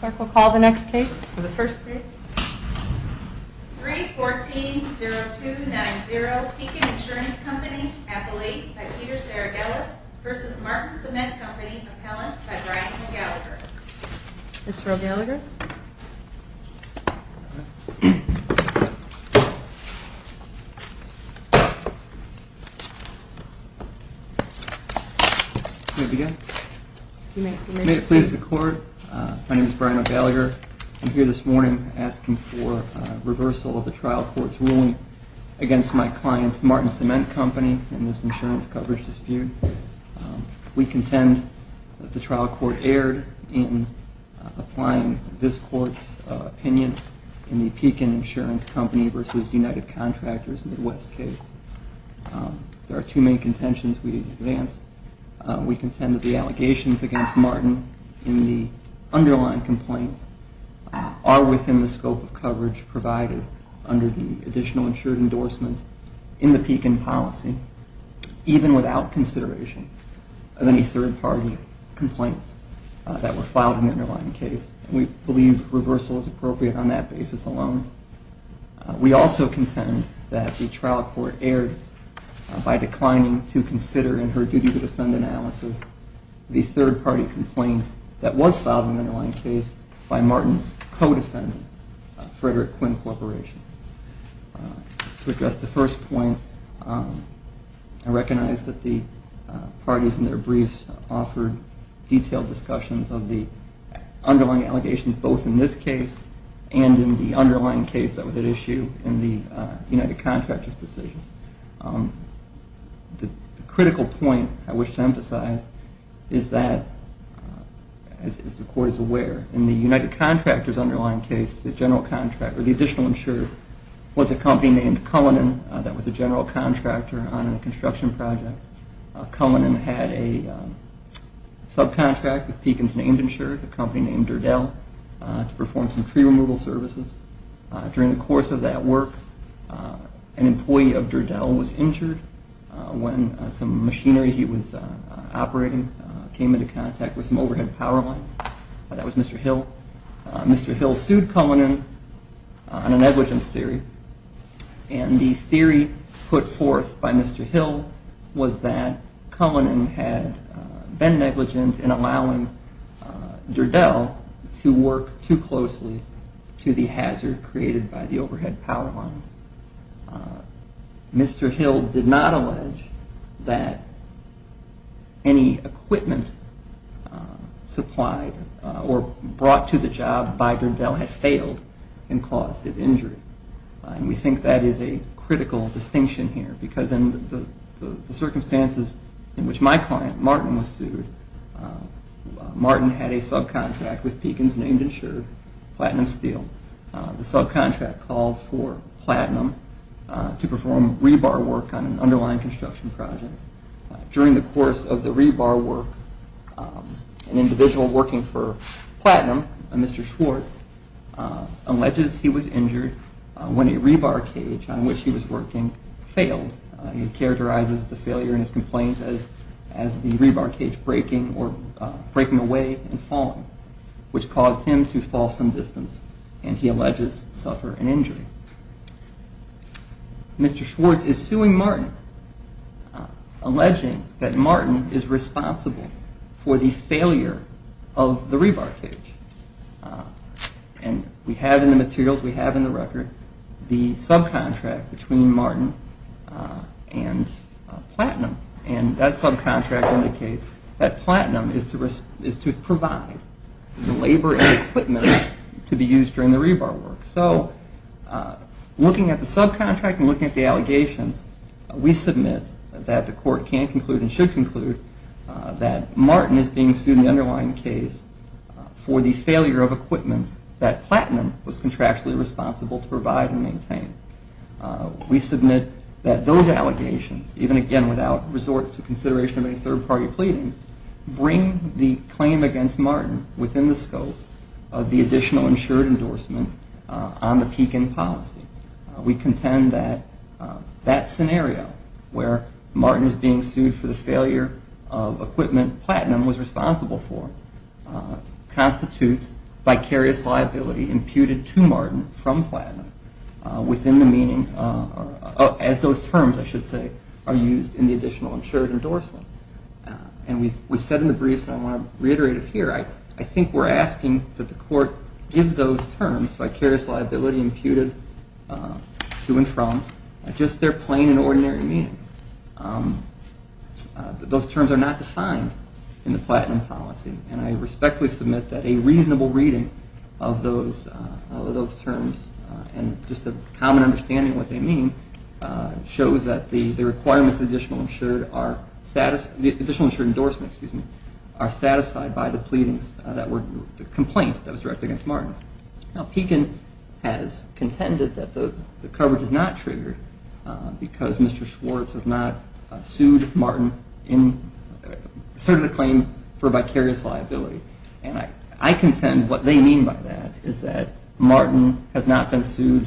Clerk will call the next case. For the first case, 3-14-0-2-9-0, Pekin Insurance Company, Appellate, by Peter Saragelis, v. Martin Cement Company, Appellant, by Brian O'Gallagher. Mr. O'Gallagher. May it please the Court, my name is Brian O'Gallagher. I'm here this morning asking for reversal of the trial court's ruling against my client, Martin Cement Company, in this insurance coverage dispute. We contend that the trial court erred in applying this Court's opinion in the Pekin Insurance Company v. United Contractors Midwest case. There are two main contentions we advance. We contend that the allegations against Martin in the underlying complaint are within the scope of coverage provided under the additional insured endorsement in the Pekin policy, even without consideration of any third-party complaints that were filed in the underlying case. We believe reversal is appropriate on that basis alone. We also contend that the trial court erred by declining to consider in her duty to defend analysis the third-party complaint that was filed in the underlying case by Martin's co-defendant, Frederick Quinn Corporation. To address the first point, I recognize that the parties in their briefs offered detailed discussions of the underlying allegations both in this case and in the underlying case that was at issue in the United Contractors decision. The critical point I wish to emphasize is that, as the Court is aware, in the United Contractors underlying case, the additional insured was a company named Cullinan that was a general contractor on a construction project. Cullinan had a subcontract with Pekin's named insured, a company named Derdell, to perform some tree removal services. During the course of that work, an employee of Derdell was injured when some machinery he was operating came into contact with some overhead power lines. That was Mr. Hill. Mr. Hill sued Cullinan on a negligence theory, and the theory put forth by Mr. Hill was that Cullinan had been negligent in allowing Derdell to work too closely to the hazard created by the overhead power lines. Mr. Hill did not allege that any equipment supplied or brought to the job by Derdell had failed and caused his injury. We think that is a critical distinction here because in the circumstances in which my client, Martin, was sued, Martin had a subcontract with Pekin's named insured, Platinum Steel. The subcontract called for Platinum to perform rebar work on an underlying construction project. During the course of the rebar work, an individual working for Platinum, Mr. Schwartz, alleges he was injured when a rebar cage on which he was working failed. He characterizes the failure in his complaint as the rebar cage breaking away and falling, which caused him to fall some distance and he alleges suffer an injury. Mr. Schwartz is suing Martin, alleging that Martin is responsible for the failure of the rebar cage. We have in the materials, we have in the record, the subcontract between Martin and Platinum. That subcontract indicates that Platinum is to provide the labor and equipment to be used during the rebar work. So, looking at the subcontract and looking at the allegations, we submit that the court can conclude and should conclude that Martin is being sued in the underlying case for the failure of equipment that Platinum was contractually responsible to provide and maintain. We submit that those allegations, even again without resort to consideration of any third-party pleadings, bring the claim against Martin within the scope of the additional insured endorsement on the Pekin policy. We contend that that scenario, where Martin is being sued for the failure of equipment Platinum was responsible for, constitutes vicarious liability imputed to Martin from Platinum as those terms are used in the additional insured endorsement. And we said in the briefs, and I want to reiterate it here, I think we're asking that the court give those terms, vicarious liability imputed to and from, just their plain and ordinary meaning. Those terms are not defined in the Platinum policy and I respectfully submit that a reasonable reading of those terms and just a common understanding of what they mean shows that the requirements of the additional insured endorsement are satisfied by the pleadings, the complaint that was directed against Martin. Now, Pekin has contended that the coverage is not triggered because Mr. Schwartz has not sued Martin, asserted a claim for vicarious liability. And I contend what they mean by that is that Martin has not been sued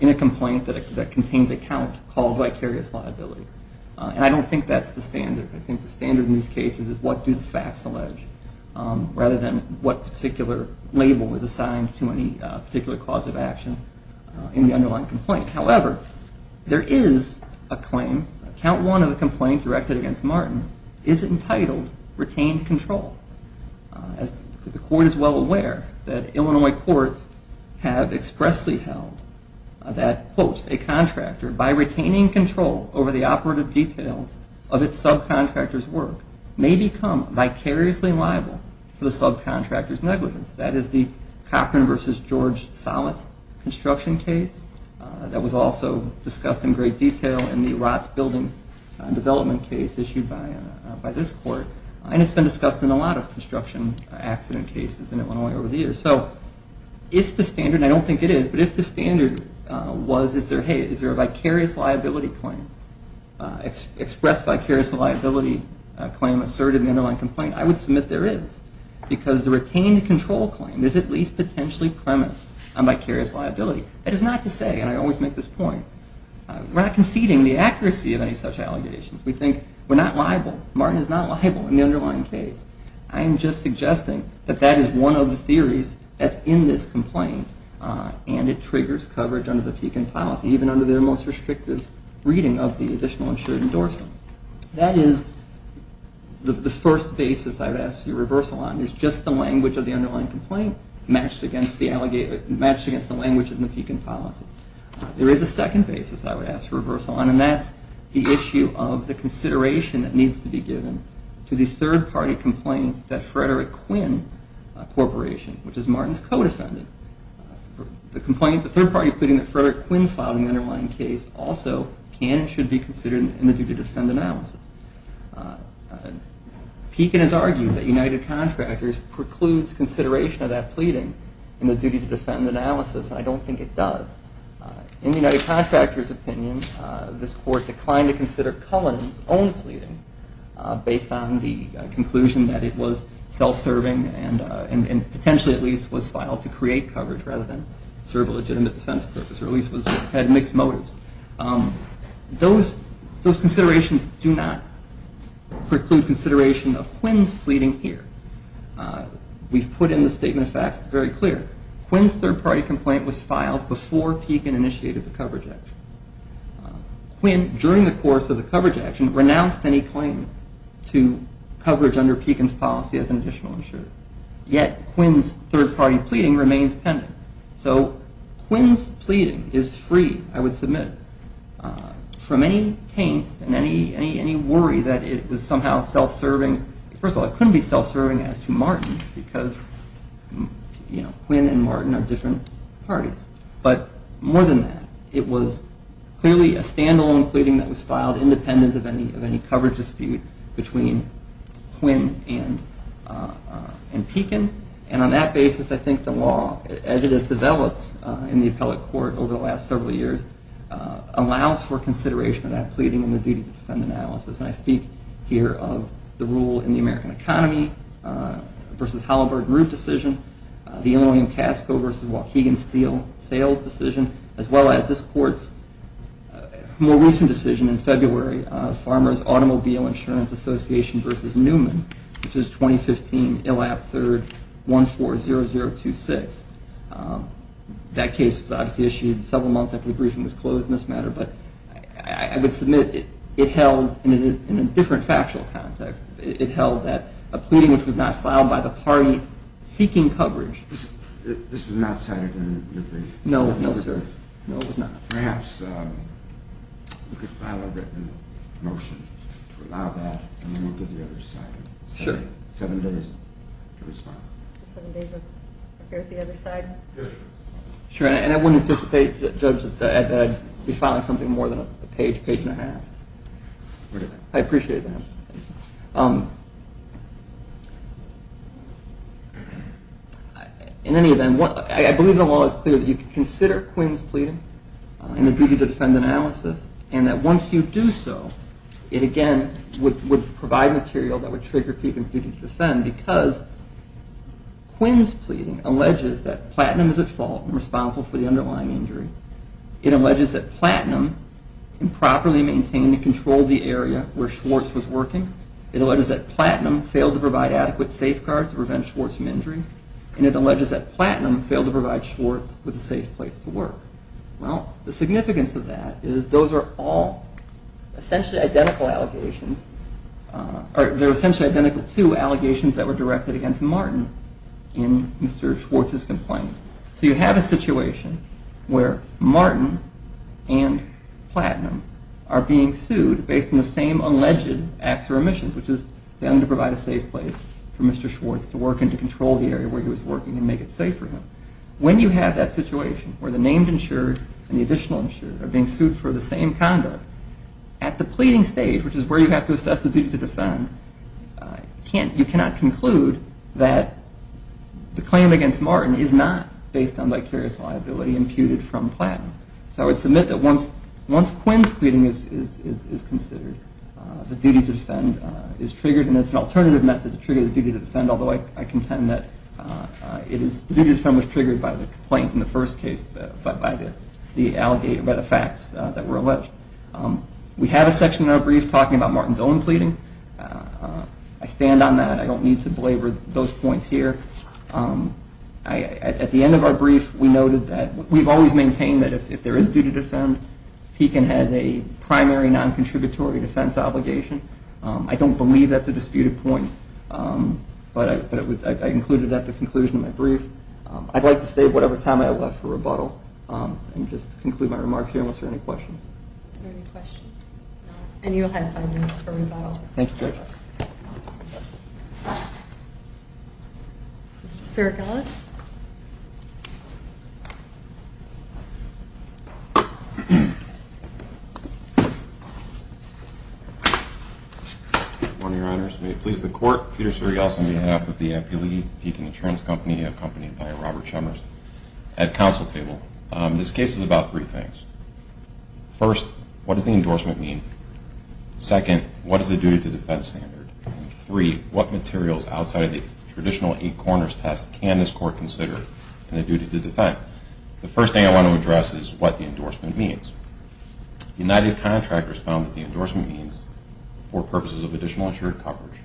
in a complaint that contains a count called vicarious liability. And I don't think that's the standard. I think the standard in these cases is what do the facts allege, rather than what particular label is assigned to any particular cause of action in the underlying complaint. However, there is a claim, count one of the complaint directed against Martin is entitled retained control. The court is well aware that Illinois courts have expressly held that, quote, a contractor by retaining control over the operative details of its subcontractor's work may become vicariously liable for the subcontractor's negligence. That is the Cochran v. George Sollett construction case that was also discussed in great detail in the ROTS building development case issued by this court. And it's been discussed in a lot of construction accident cases in Illinois over the years. So if the standard, and I don't think it is, but if the standard was, hey, is there a vicarious liability claim, express vicarious liability claim asserted in the underlying complaint, I would submit there is. Because the retained control claim is at least potentially premised on vicarious liability. That is not to say, and I always make this point, we're not conceding the accuracy of any such allegations. We think we're not liable. Martin is not liable in the underlying case. I am just suggesting that that is one of the theories that's in this complaint, and it triggers coverage under the Pekin policy, even under their most restrictive reading of the additional insured endorsement. That is the first basis I would ask for reversal on, is just the language of the underlying complaint matched against the language in the Pekin policy. There is a second basis I would ask for reversal on, and that's the issue of the consideration that needs to be given to the third party complaint that Frederick Quinn Corporation, which is Martin's co-defendant. The third party pleading that Frederick Quinn filed in the underlying case also can and should be considered in the duty to defend analysis. Pekin has argued that United Contractors precludes consideration of that pleading in the duty to defend analysis, and I don't think it does. In the United Contractors' opinion, this court declined to consider Cullen's own pleading based on the conclusion that it was self-serving and potentially at least was filed to create coverage rather than serve a legitimate defense purpose or at least had mixed motives. Those considerations do not preclude consideration of Quinn's pleading here. We've put in the statement of facts. It's very clear. Quinn's third party complaint was filed before Pekin initiated the coverage action. Quinn, during the course of the coverage action, renounced any claim to coverage under Pekin's policy as an additional insured. Yet, Quinn's third party pleading remains pending. So, Quinn's pleading is free, I would submit, from any taint and any worry that it was somehow self-serving. First of all, it couldn't be self-serving as to Martin because Quinn and Martin are different parties. But more than that, it was clearly a stand-alone pleading that was filed independent of any coverage dispute between Quinn and Pekin. And on that basis, I think the law, as it has developed in the appellate court over the last several years, allows for consideration of that pleading in the duty to defend analysis. And I speak here of the rule in the American economy versus Halliburton Root decision, the Illinois and Casco versus Waukegan Steel sales decision, as well as this court's more recent decision in February, Farmers Automobile Insurance Association versus Newman, which is 2015 ILAP 3rd 140026. That case was obviously issued several months after the briefing was closed in this matter, but I would submit it held, in a different factual context, it held that a pleading which was not filed by the party seeking coverage... This was not cited in the briefing? No, no, sir. No, it was not. Perhaps we could file a written motion to allow that, and then we'll give the other side seven days to respond. Seven days to prepare the other side? Sure, and I wouldn't anticipate, Judge, that I'd be filing something more than a page, page and a half. I appreciate that. In any event, I believe the law is clear that you can consider Quinn's pleading in the duty to defend analysis, and that once you do so, it again would provide material that would trigger people's duty to defend because Quinn's pleading alleges that platinum is at fault and responsible for the underlying injury. It alleges that platinum improperly maintained and controlled the area where Schwartz was working. It alleges that platinum failed to provide adequate safeguards to prevent Schwartz from injury, and it alleges that platinum failed to provide Schwartz with a safe place to work. Well, the significance of that is those are all essentially identical allegations, or they're essentially identical to allegations that were directed against Martin in Mr. Schwartz's complaint. So you have a situation where Martin and platinum are being sued based on the same alleged acts or omissions, which is for them to provide a safe place for Mr. Schwartz to work and to control the area where he was working and make it safe for him. When you have that situation where the named insured and the additional insured are being sued for the same conduct, at the pleading stage, which is where you have to assess the duty to defend, you cannot conclude that the claim against Martin is not based on vicarious liability imputed from platinum. So I would submit that once Quinn's pleading is considered, the duty to defend is triggered, and it's an alternative method to trigger the duty to defend, although I contend that the duty to defend was triggered by the complaint in the first case, but by the facts that were alleged. We have a section in our brief talking about Martin's own pleading. I stand on that. I don't need to belabor those points here. At the end of our brief, we noted that we've always maintained that if there is duty to defend, he has a primary non-contributory defense obligation. I don't believe that's a disputed point, but I included that at the conclusion of my brief. I'd like to save whatever time I have left for rebuttal and just conclude my remarks here unless there are any questions. Are there any questions? No. And you'll have five minutes for rebuttal. Thank you, Judge. Mr. Sirigelis. Good morning, Your Honors. May it please the Court, Peter Sirigelis on behalf of the Appealee Peking Insurance Company, accompanied by Robert Chalmers, at counsel table. This case is about three things. First, what does the endorsement mean? Second, what is the duty to defend stated? And three, what materials outside of the traditional eight corners test can this Court consider in the duty to defend? The first thing I want to address is what the endorsement means. United Contractors found that the endorsement means, for purposes of additional insured coverage,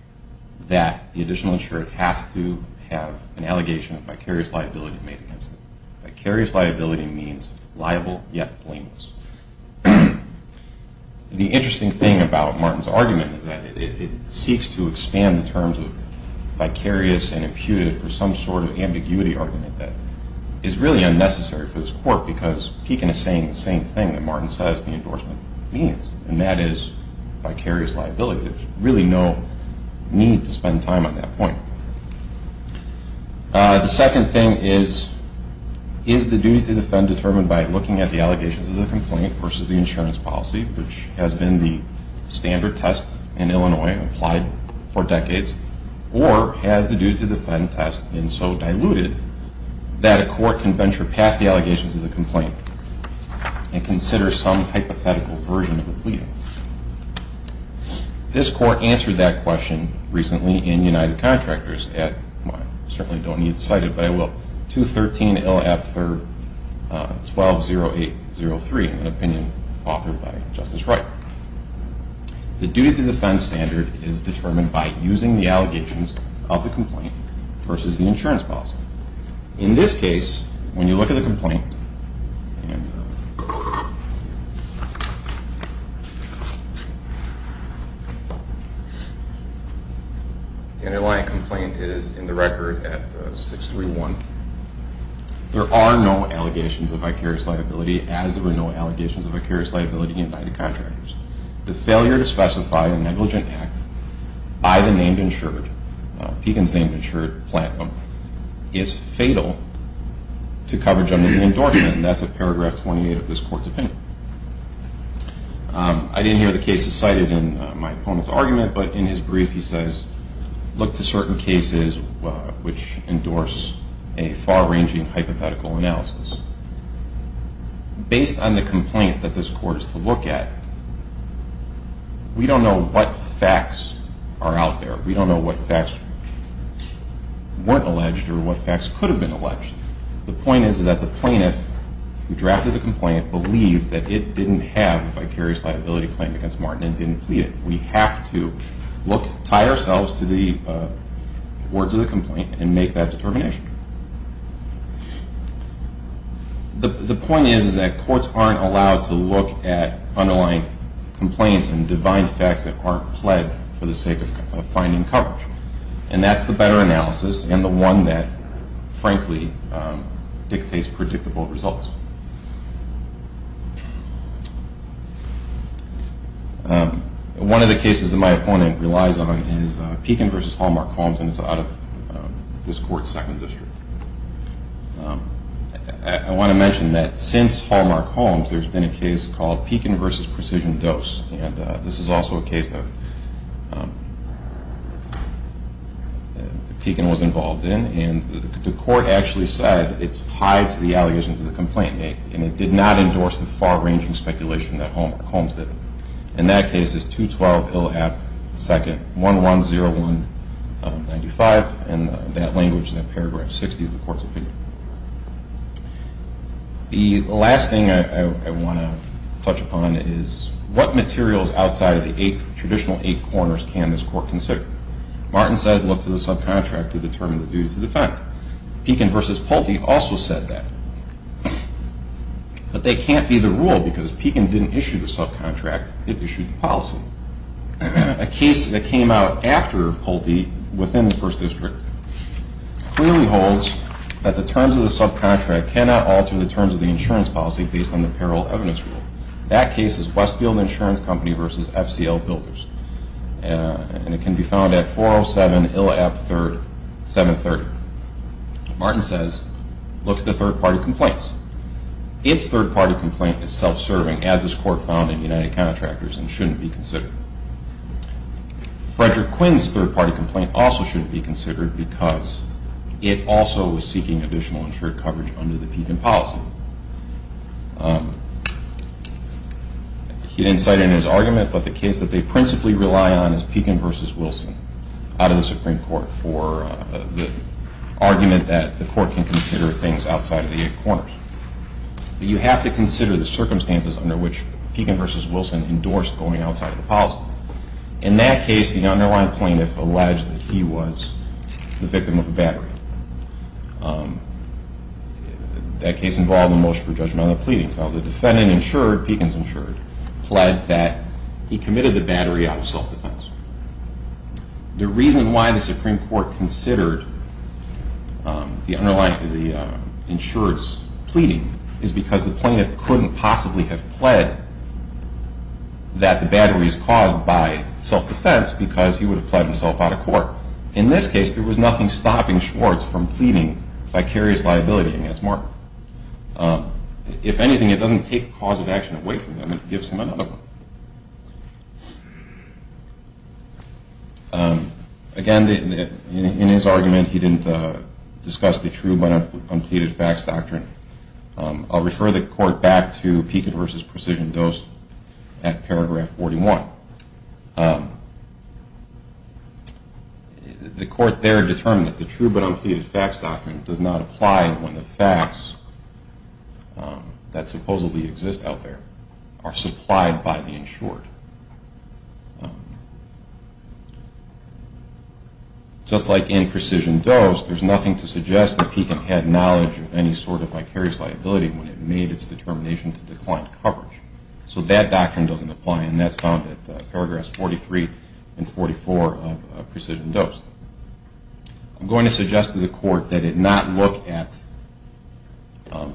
that the additional insured has to have an allegation of vicarious liability made against them. Vicarious liability means liable yet blameless. The interesting thing about Martin's argument is that it seeks to expand the terms of vicarious and imputed for some sort of ambiguity argument that is really unnecessary for this Court because Peking is saying the same thing that Martin says the endorsement means, and that is vicarious liability. There's really no need to spend time on that point. The second thing is, is the duty to defend determined by looking at the allegations of the complaint versus the insurance policy, which has been the standard test in Illinois and applied for decades, or has the duty to defend test been so diluted that a court can venture past the allegations of the complaint This Court answered that question recently in United Contractors at, well, I certainly don't need to cite it, but I will, 213-LF-120803, an opinion authored by Justice Wright. The duty to defend standard is determined by using the allegations of the complaint versus the insurance policy. In this case, when you look at the complaint, the underlying complaint is in the record at 631. There are no allegations of vicarious liability as there were no allegations of vicarious liability in United Contractors. The failure to specify a negligent act by the named insured, Pekin's named insured plant owner, is fatal to coverage under the endorsement, and that's at paragraph 28 of this Court's opinion. I didn't hear the cases cited in my opponent's argument, but in his brief he says, look to certain cases which endorse a far-ranging hypothetical analysis. Based on the complaint that this Court is to look at, we don't know what facts are out there. We don't know what facts weren't alleged or what facts could have been alleged. The point is that the plaintiff who drafted the complaint believed that it didn't have a vicarious liability claim against Martin and didn't plead it. We have to tie ourselves to the words of the complaint and make that determination. The point is that courts aren't allowed to look at underlying complaints and divine facts that aren't pled for the sake of finding coverage, and that's the better analysis and the one that, frankly, dictates predictable results. One of the cases that my opponent relies on is Pekin v. Hallmark Holmes, and it's out of this Court's Second District. I want to mention that since Hallmark Holmes, there's been a case called Pekin v. Precision Dose, and this is also a case that Pekin was involved in, and the Court actually said it's tied to the allegations of the complainant, and it did not endorse the far-ranging speculation that Hallmark Holmes did. In that case, it's 212 Ill. App. 2nd. 110195, and that language is in paragraph 60 of the Court's opinion. The last thing I want to touch upon is what materials outside of the traditional eight corners can this Court consider? Martin says look to the subcontract to determine the duties of the defendant. Pekin v. Pulte also said that, but that can't be the rule because Pekin didn't issue the subcontract, it issued the policy. A case that came out after Pulte within the First District clearly holds that the terms of the subcontract cannot alter the terms of the insurance policy based on the parallel evidence rule. That case is Westfield Insurance Company v. FCL Builders, and it can be found at 407 Ill. App. 730. Martin says look at the third-party complaints. Its third-party complaint is self-serving, as this Court found in United Contractors, and shouldn't be considered. Frederick Quinn's third-party complaint also shouldn't be considered because it also was seeking additional insured coverage under the Pekin policy. He didn't cite it in his argument, but the case that they principally rely on is Pekin v. Wilson out of the Supreme Court for the argument that the Court can consider things outside of the eight corners. But you have to consider the circumstances under which Pekin v. Wilson endorsed going outside of the policy. In that case, the underlying plaintiff alleged that he was the victim of a battery. That case involved a motion for judgment on the pleadings. So the defendant insured, Pekin's insured, pled that he committed the battery out of self-defense. The reason why the Supreme Court considered the insurer's pleading is because the plaintiff couldn't possibly have pled that the battery is caused by self-defense because he would have pled himself out of court. In this case, there was nothing stopping Schwartz from pleading vicarious liability against Mark. If anything, it doesn't take a cause of action away from him. Again, in his argument, he didn't discuss the true but unpleaded facts doctrine. I'll refer the Court back to Pekin v. Precision Dose at paragraph 41. The Court there determined that the true but unpleaded facts doctrine does not apply when the facts that supposedly exist out there are supplied by the insured. Just like in Precision Dose, there's nothing to suggest that Pekin had knowledge of any sort of vicarious liability when it made its determination to decline coverage. So that doctrine doesn't apply, and that's found at paragraph 43 and 44 of Precision Dose. I'm going to suggest to the Court that it not look at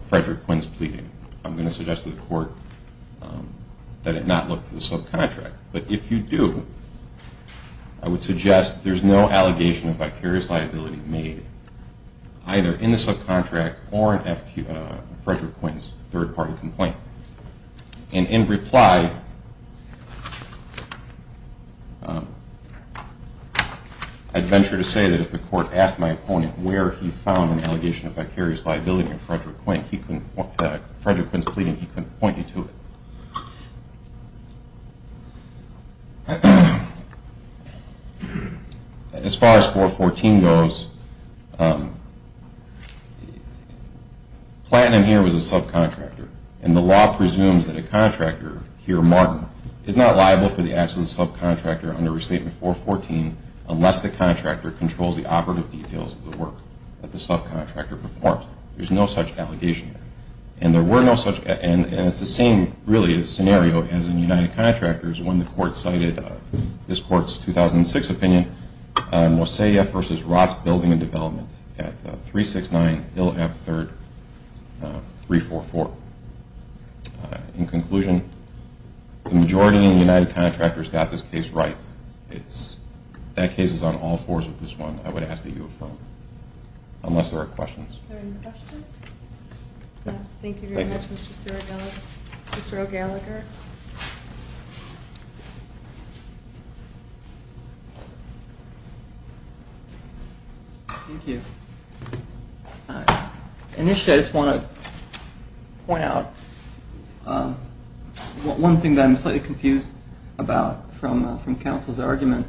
Frederick Quinn's pleading. I'm going to suggest to the Court that it not look to the subcontract. But if you do, I would suggest there's no allegation of vicarious liability made either in the subcontract or in Frederick Quinn's third-party complaint. And in reply, I'd venture to say that if the Court asked my opponent where he found an allegation of vicarious liability in Frederick Quinn's pleading, he couldn't point you to it. As far as 414 goes, Platinum here was a subcontractor, and the law presumes that a contractor, here Martin, is not liable for the acts of the subcontractor under Restatement 414 unless the contractor controls the operative details of the work that the subcontractor performs. There's no such allegation there. And there were no such, and it's the same really scenario as in United Contractors when the Court cited this Court's 2006 opinion, Mosiah v. Rotts Building and Development at 369 Hill Ave. 3, 344. In conclusion, the majority in United Contractors got this case right. That case is on all fours with this one, I would ask that you affirm. Unless there are questions. Thank you very much, Mr. O'Gallagher. Thank you. Initially I just want to point out one thing that I'm slightly confused about from counsel's argument.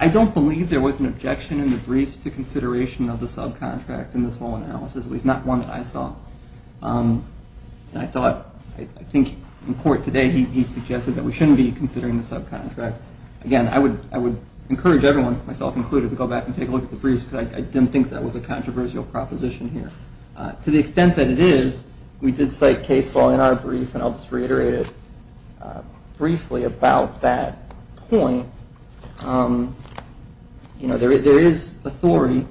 I don't believe there was an objection in the brief to consideration of the subcontract in this whole analysis, at least not one that I saw. I think in court today he suggested that we shouldn't be considering the subcontract. Again, I would encourage everyone, myself included, to go back and take a look at the briefs because I didn't think that was a controversial proposition here. To the extent that it is, we did cite case law in our brief, and I'll just reiterate it briefly about that point. There is authority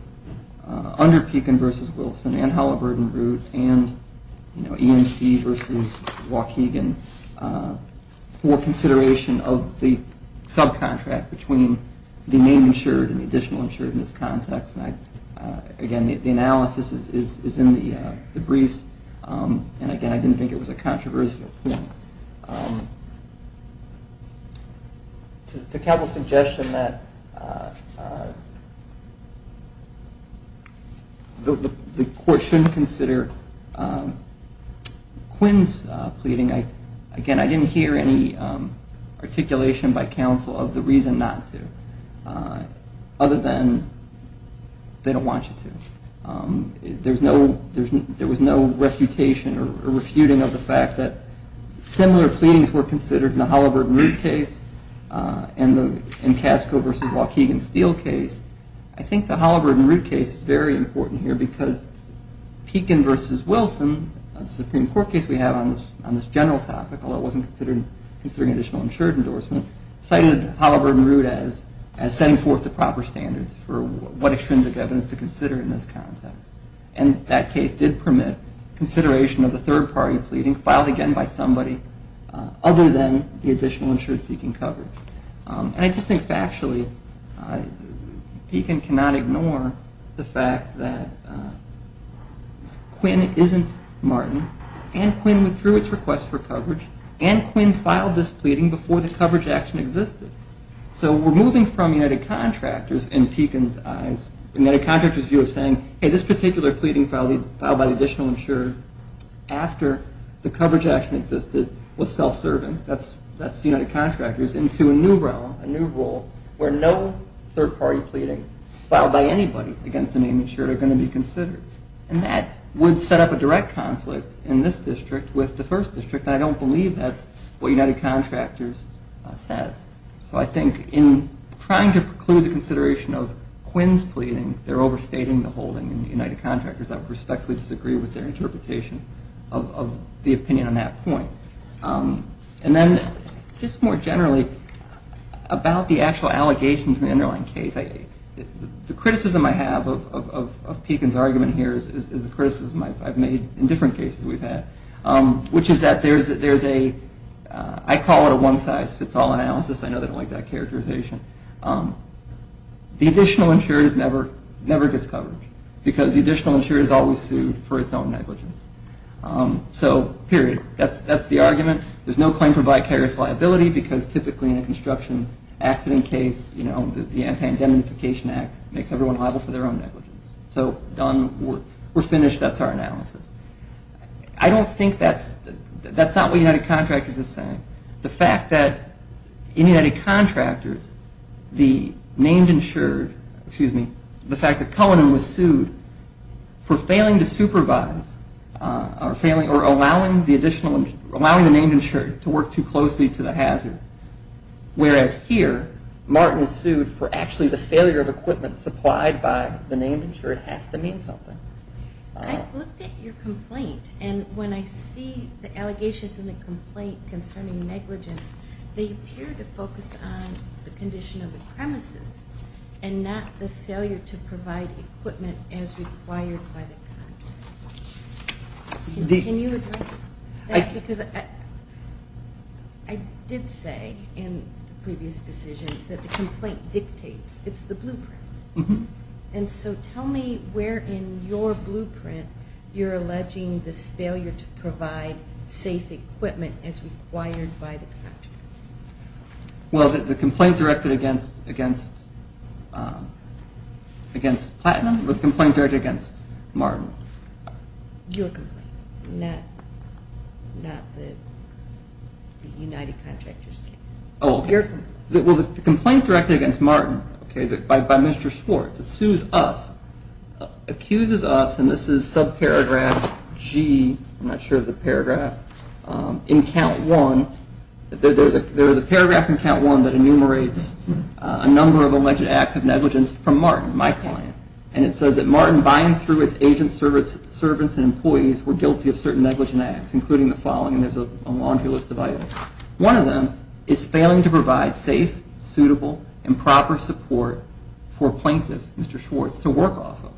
under Pekin v. Wilson and Halliburton Root and EMC v. Waukegan for consideration of the subcontract between the name insured and the additional insured in this context. Again, the analysis is in the briefs, and again, I didn't think it was a controversial point. To counsel's suggestion that the court shouldn't consider Quinn's pleading, again, I didn't hear any articulation by counsel of the reason not to, other than they don't want you to. There was no refutation or refuting of the fact that similar pleadings were considered in the Halliburton Root case and in Casco v. Waukegan Steel case. I think the Halliburton Root case is very important here because Pekin v. Wilson, the Supreme Court case we have on this general topic, although it wasn't considering additional insured endorsement, cited Halliburton Root as setting forth the proper standards for what extrinsic evidence to consider in this context. And that case did permit consideration of the third party pleading filed again by somebody other than the additional insured seeking coverage. And I just think factually, Pekin cannot ignore the fact that Quinn isn't Martin, and Quinn withdrew its request for coverage, and Quinn filed this pleading before the coverage action existed. So we're moving from United Contractors in Pekin's eyes, United Contractors' view of saying, hey, this particular pleading filed by the additional insured after the coverage action existed was self-serving, that's United Contractors, into a new realm, a new role, where no third party pleadings filed by anybody against the name insured are going to be considered. And that would set up a direct conflict in this district with the first district, and I don't believe that's what United Contractors says. So I think in trying to preclude the consideration of Quinn's pleading, they're overstating the holding in the United Contractors. I would respectfully disagree with their interpretation of the opinion on that point. And then just more generally, about the actual allegations in the underlying case, the criticism I have of Pekin's argument, and what I'm saying here is a criticism I've made in different cases we've had, which is that there's a, I call it a one-size-fits-all analysis, I know they don't like that characterization. The additional insured never gets coverage, because the additional insured is always sued for its own negligence. So, period. That's the argument. There's no claim for vicarious liability, because typically in a construction accident case, you know, the Anti-Indemnification Act makes everyone liable for their own negligence. So, done, we're finished, that's our analysis. I don't think that's, that's not what United Contractors is saying. The fact that in United Contractors, the named insured, excuse me, the fact that Cullinan was sued for failing to supervise, or allowing the additional, allowing the named insured to work too closely to the hazard. Whereas here, Martin is sued for actually the failure of equipment supplied by the named insured has to mean something. I looked at your complaint, and when I see the allegations in the complaint concerning negligence, they appear to focus on the condition of the premises, and not the failure to provide equipment as required by the contract. Can you address that? Because I did say in the previous decision that the complaint dictates, it's the blueprint. And so tell me where in your blueprint you're alleging this failure to provide safe equipment as required by the contract. Well, the complaint directed against, against Platinum, the complaint directed against Martin. Your complaint, not, not the United Contractors case. Oh. Your complaint. Well, the complaint directed against Martin, okay, by Mr. Schwartz, it sues us, accuses us, and this is subparagraph G, I'm not sure of the paragraph, in count one, there's a paragraph in count one that enumerates a number of alleged acts of negligence from Martin, my client. And it says that Martin, by and through its agents, servants, and employees, were guilty of certain negligent acts, including the following, and there's a laundry list of items. One of them is failing to provide safe, suitable, and proper support for a plaintiff, Mr. Schwartz, to work off of.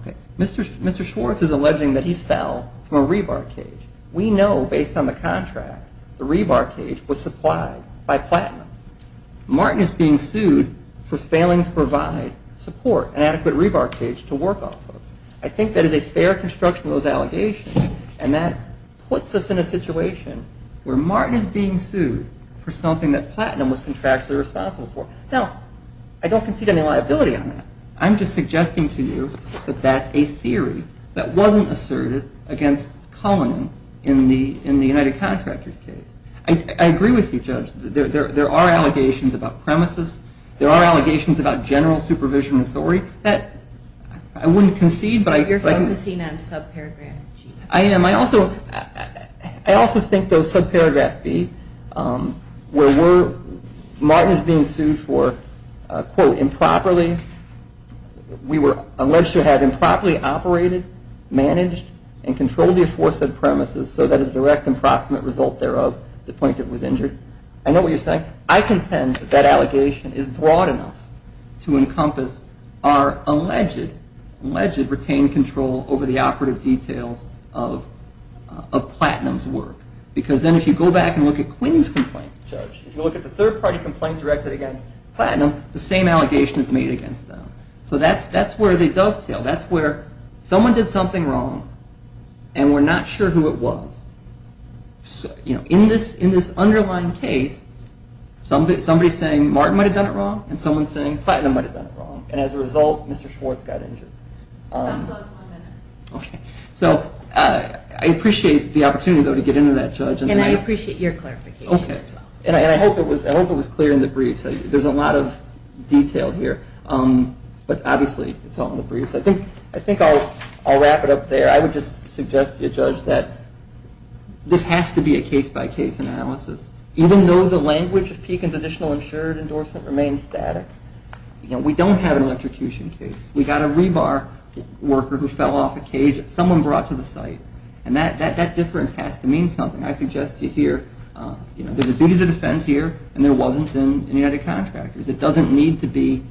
Okay, Mr. Schwartz is alleging that he fell from a rebar cage. We know, based on the contract, the rebar cage was supplied by Platinum. Martin is being sued for failing to provide support, an adequate rebar cage, to work off of. I think that is a fair construction of those allegations, and that puts us in a situation where Martin is being sued for something that Platinum was contractually responsible for. Now, I don't concede any liability on that. I'm just suggesting to you that that's a theory that wasn't asserted against Cullinan in the United Contractors case. I agree with you, Judge. There are allegations about premises. There are allegations about general supervision authority. I wouldn't concede, but I can... You're focusing on subparagraph G. I am. I also think those subparagraph B, where Martin is being sued for, quote, improperly. We were alleged to have improperly operated, managed, and controlled the aforesaid premises, so that as a direct and proximate result thereof, the plaintiff was injured. I know what you're saying. I contend that that allegation is broad enough to encompass our alleged, alleged retained control over the operative details of Platinum's work, because then if you go back and look at Quinn's complaint, Judge, if you look at the third-party complaint directed against Platinum, the same allegation is made against them. So that's where they dovetail. That's where someone did something wrong, and we're not sure who it was. In this underlying case, somebody's saying Martin might have done it wrong, and someone's saying Platinum might have done it wrong, and as a result, Mr. Schwartz got injured. That's last one minute. Okay. So I appreciate the opportunity, though, to get into that, Judge. And I appreciate your clarification. Okay. And I hope it was clear in the brief. There's a lot of detail here, but obviously it's all in the brief. So I think I'll wrap it up there. I would just suggest to you, Judge, that this has to be a case-by-case analysis. Even though the language of Pekin's additional insured endorsement remains static, we don't have an electrocution case. We've got a rebar worker who fell off a cage that someone brought to the site, and that difference has to mean something. I suggest to you here, you know, there's a duty to defend here, and there wasn't in United Contractors. It doesn't need to be,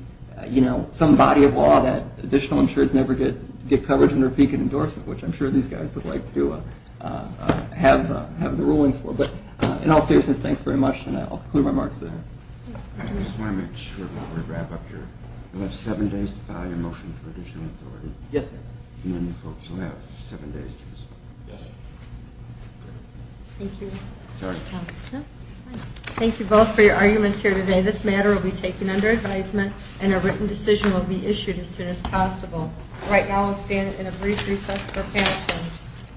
you know, some body of law that additional insurers never get coverage under Pekin endorsement, which I'm sure these guys would like to have the ruling for. But in all seriousness, thanks very much, and I'll conclude my remarks there. I just want to make sure while we wrap up here. You'll have seven days to file your motion for additional authority. Yes, sir. And then you folks will have seven days to respond. Yes, sir. Thank you. Sorry. No, it's fine. Thank you both for your arguments here today. This matter will be taken under advisement, and a written decision will be issued as soon as possible. Right now, I'll stand in a brief recess for panel change.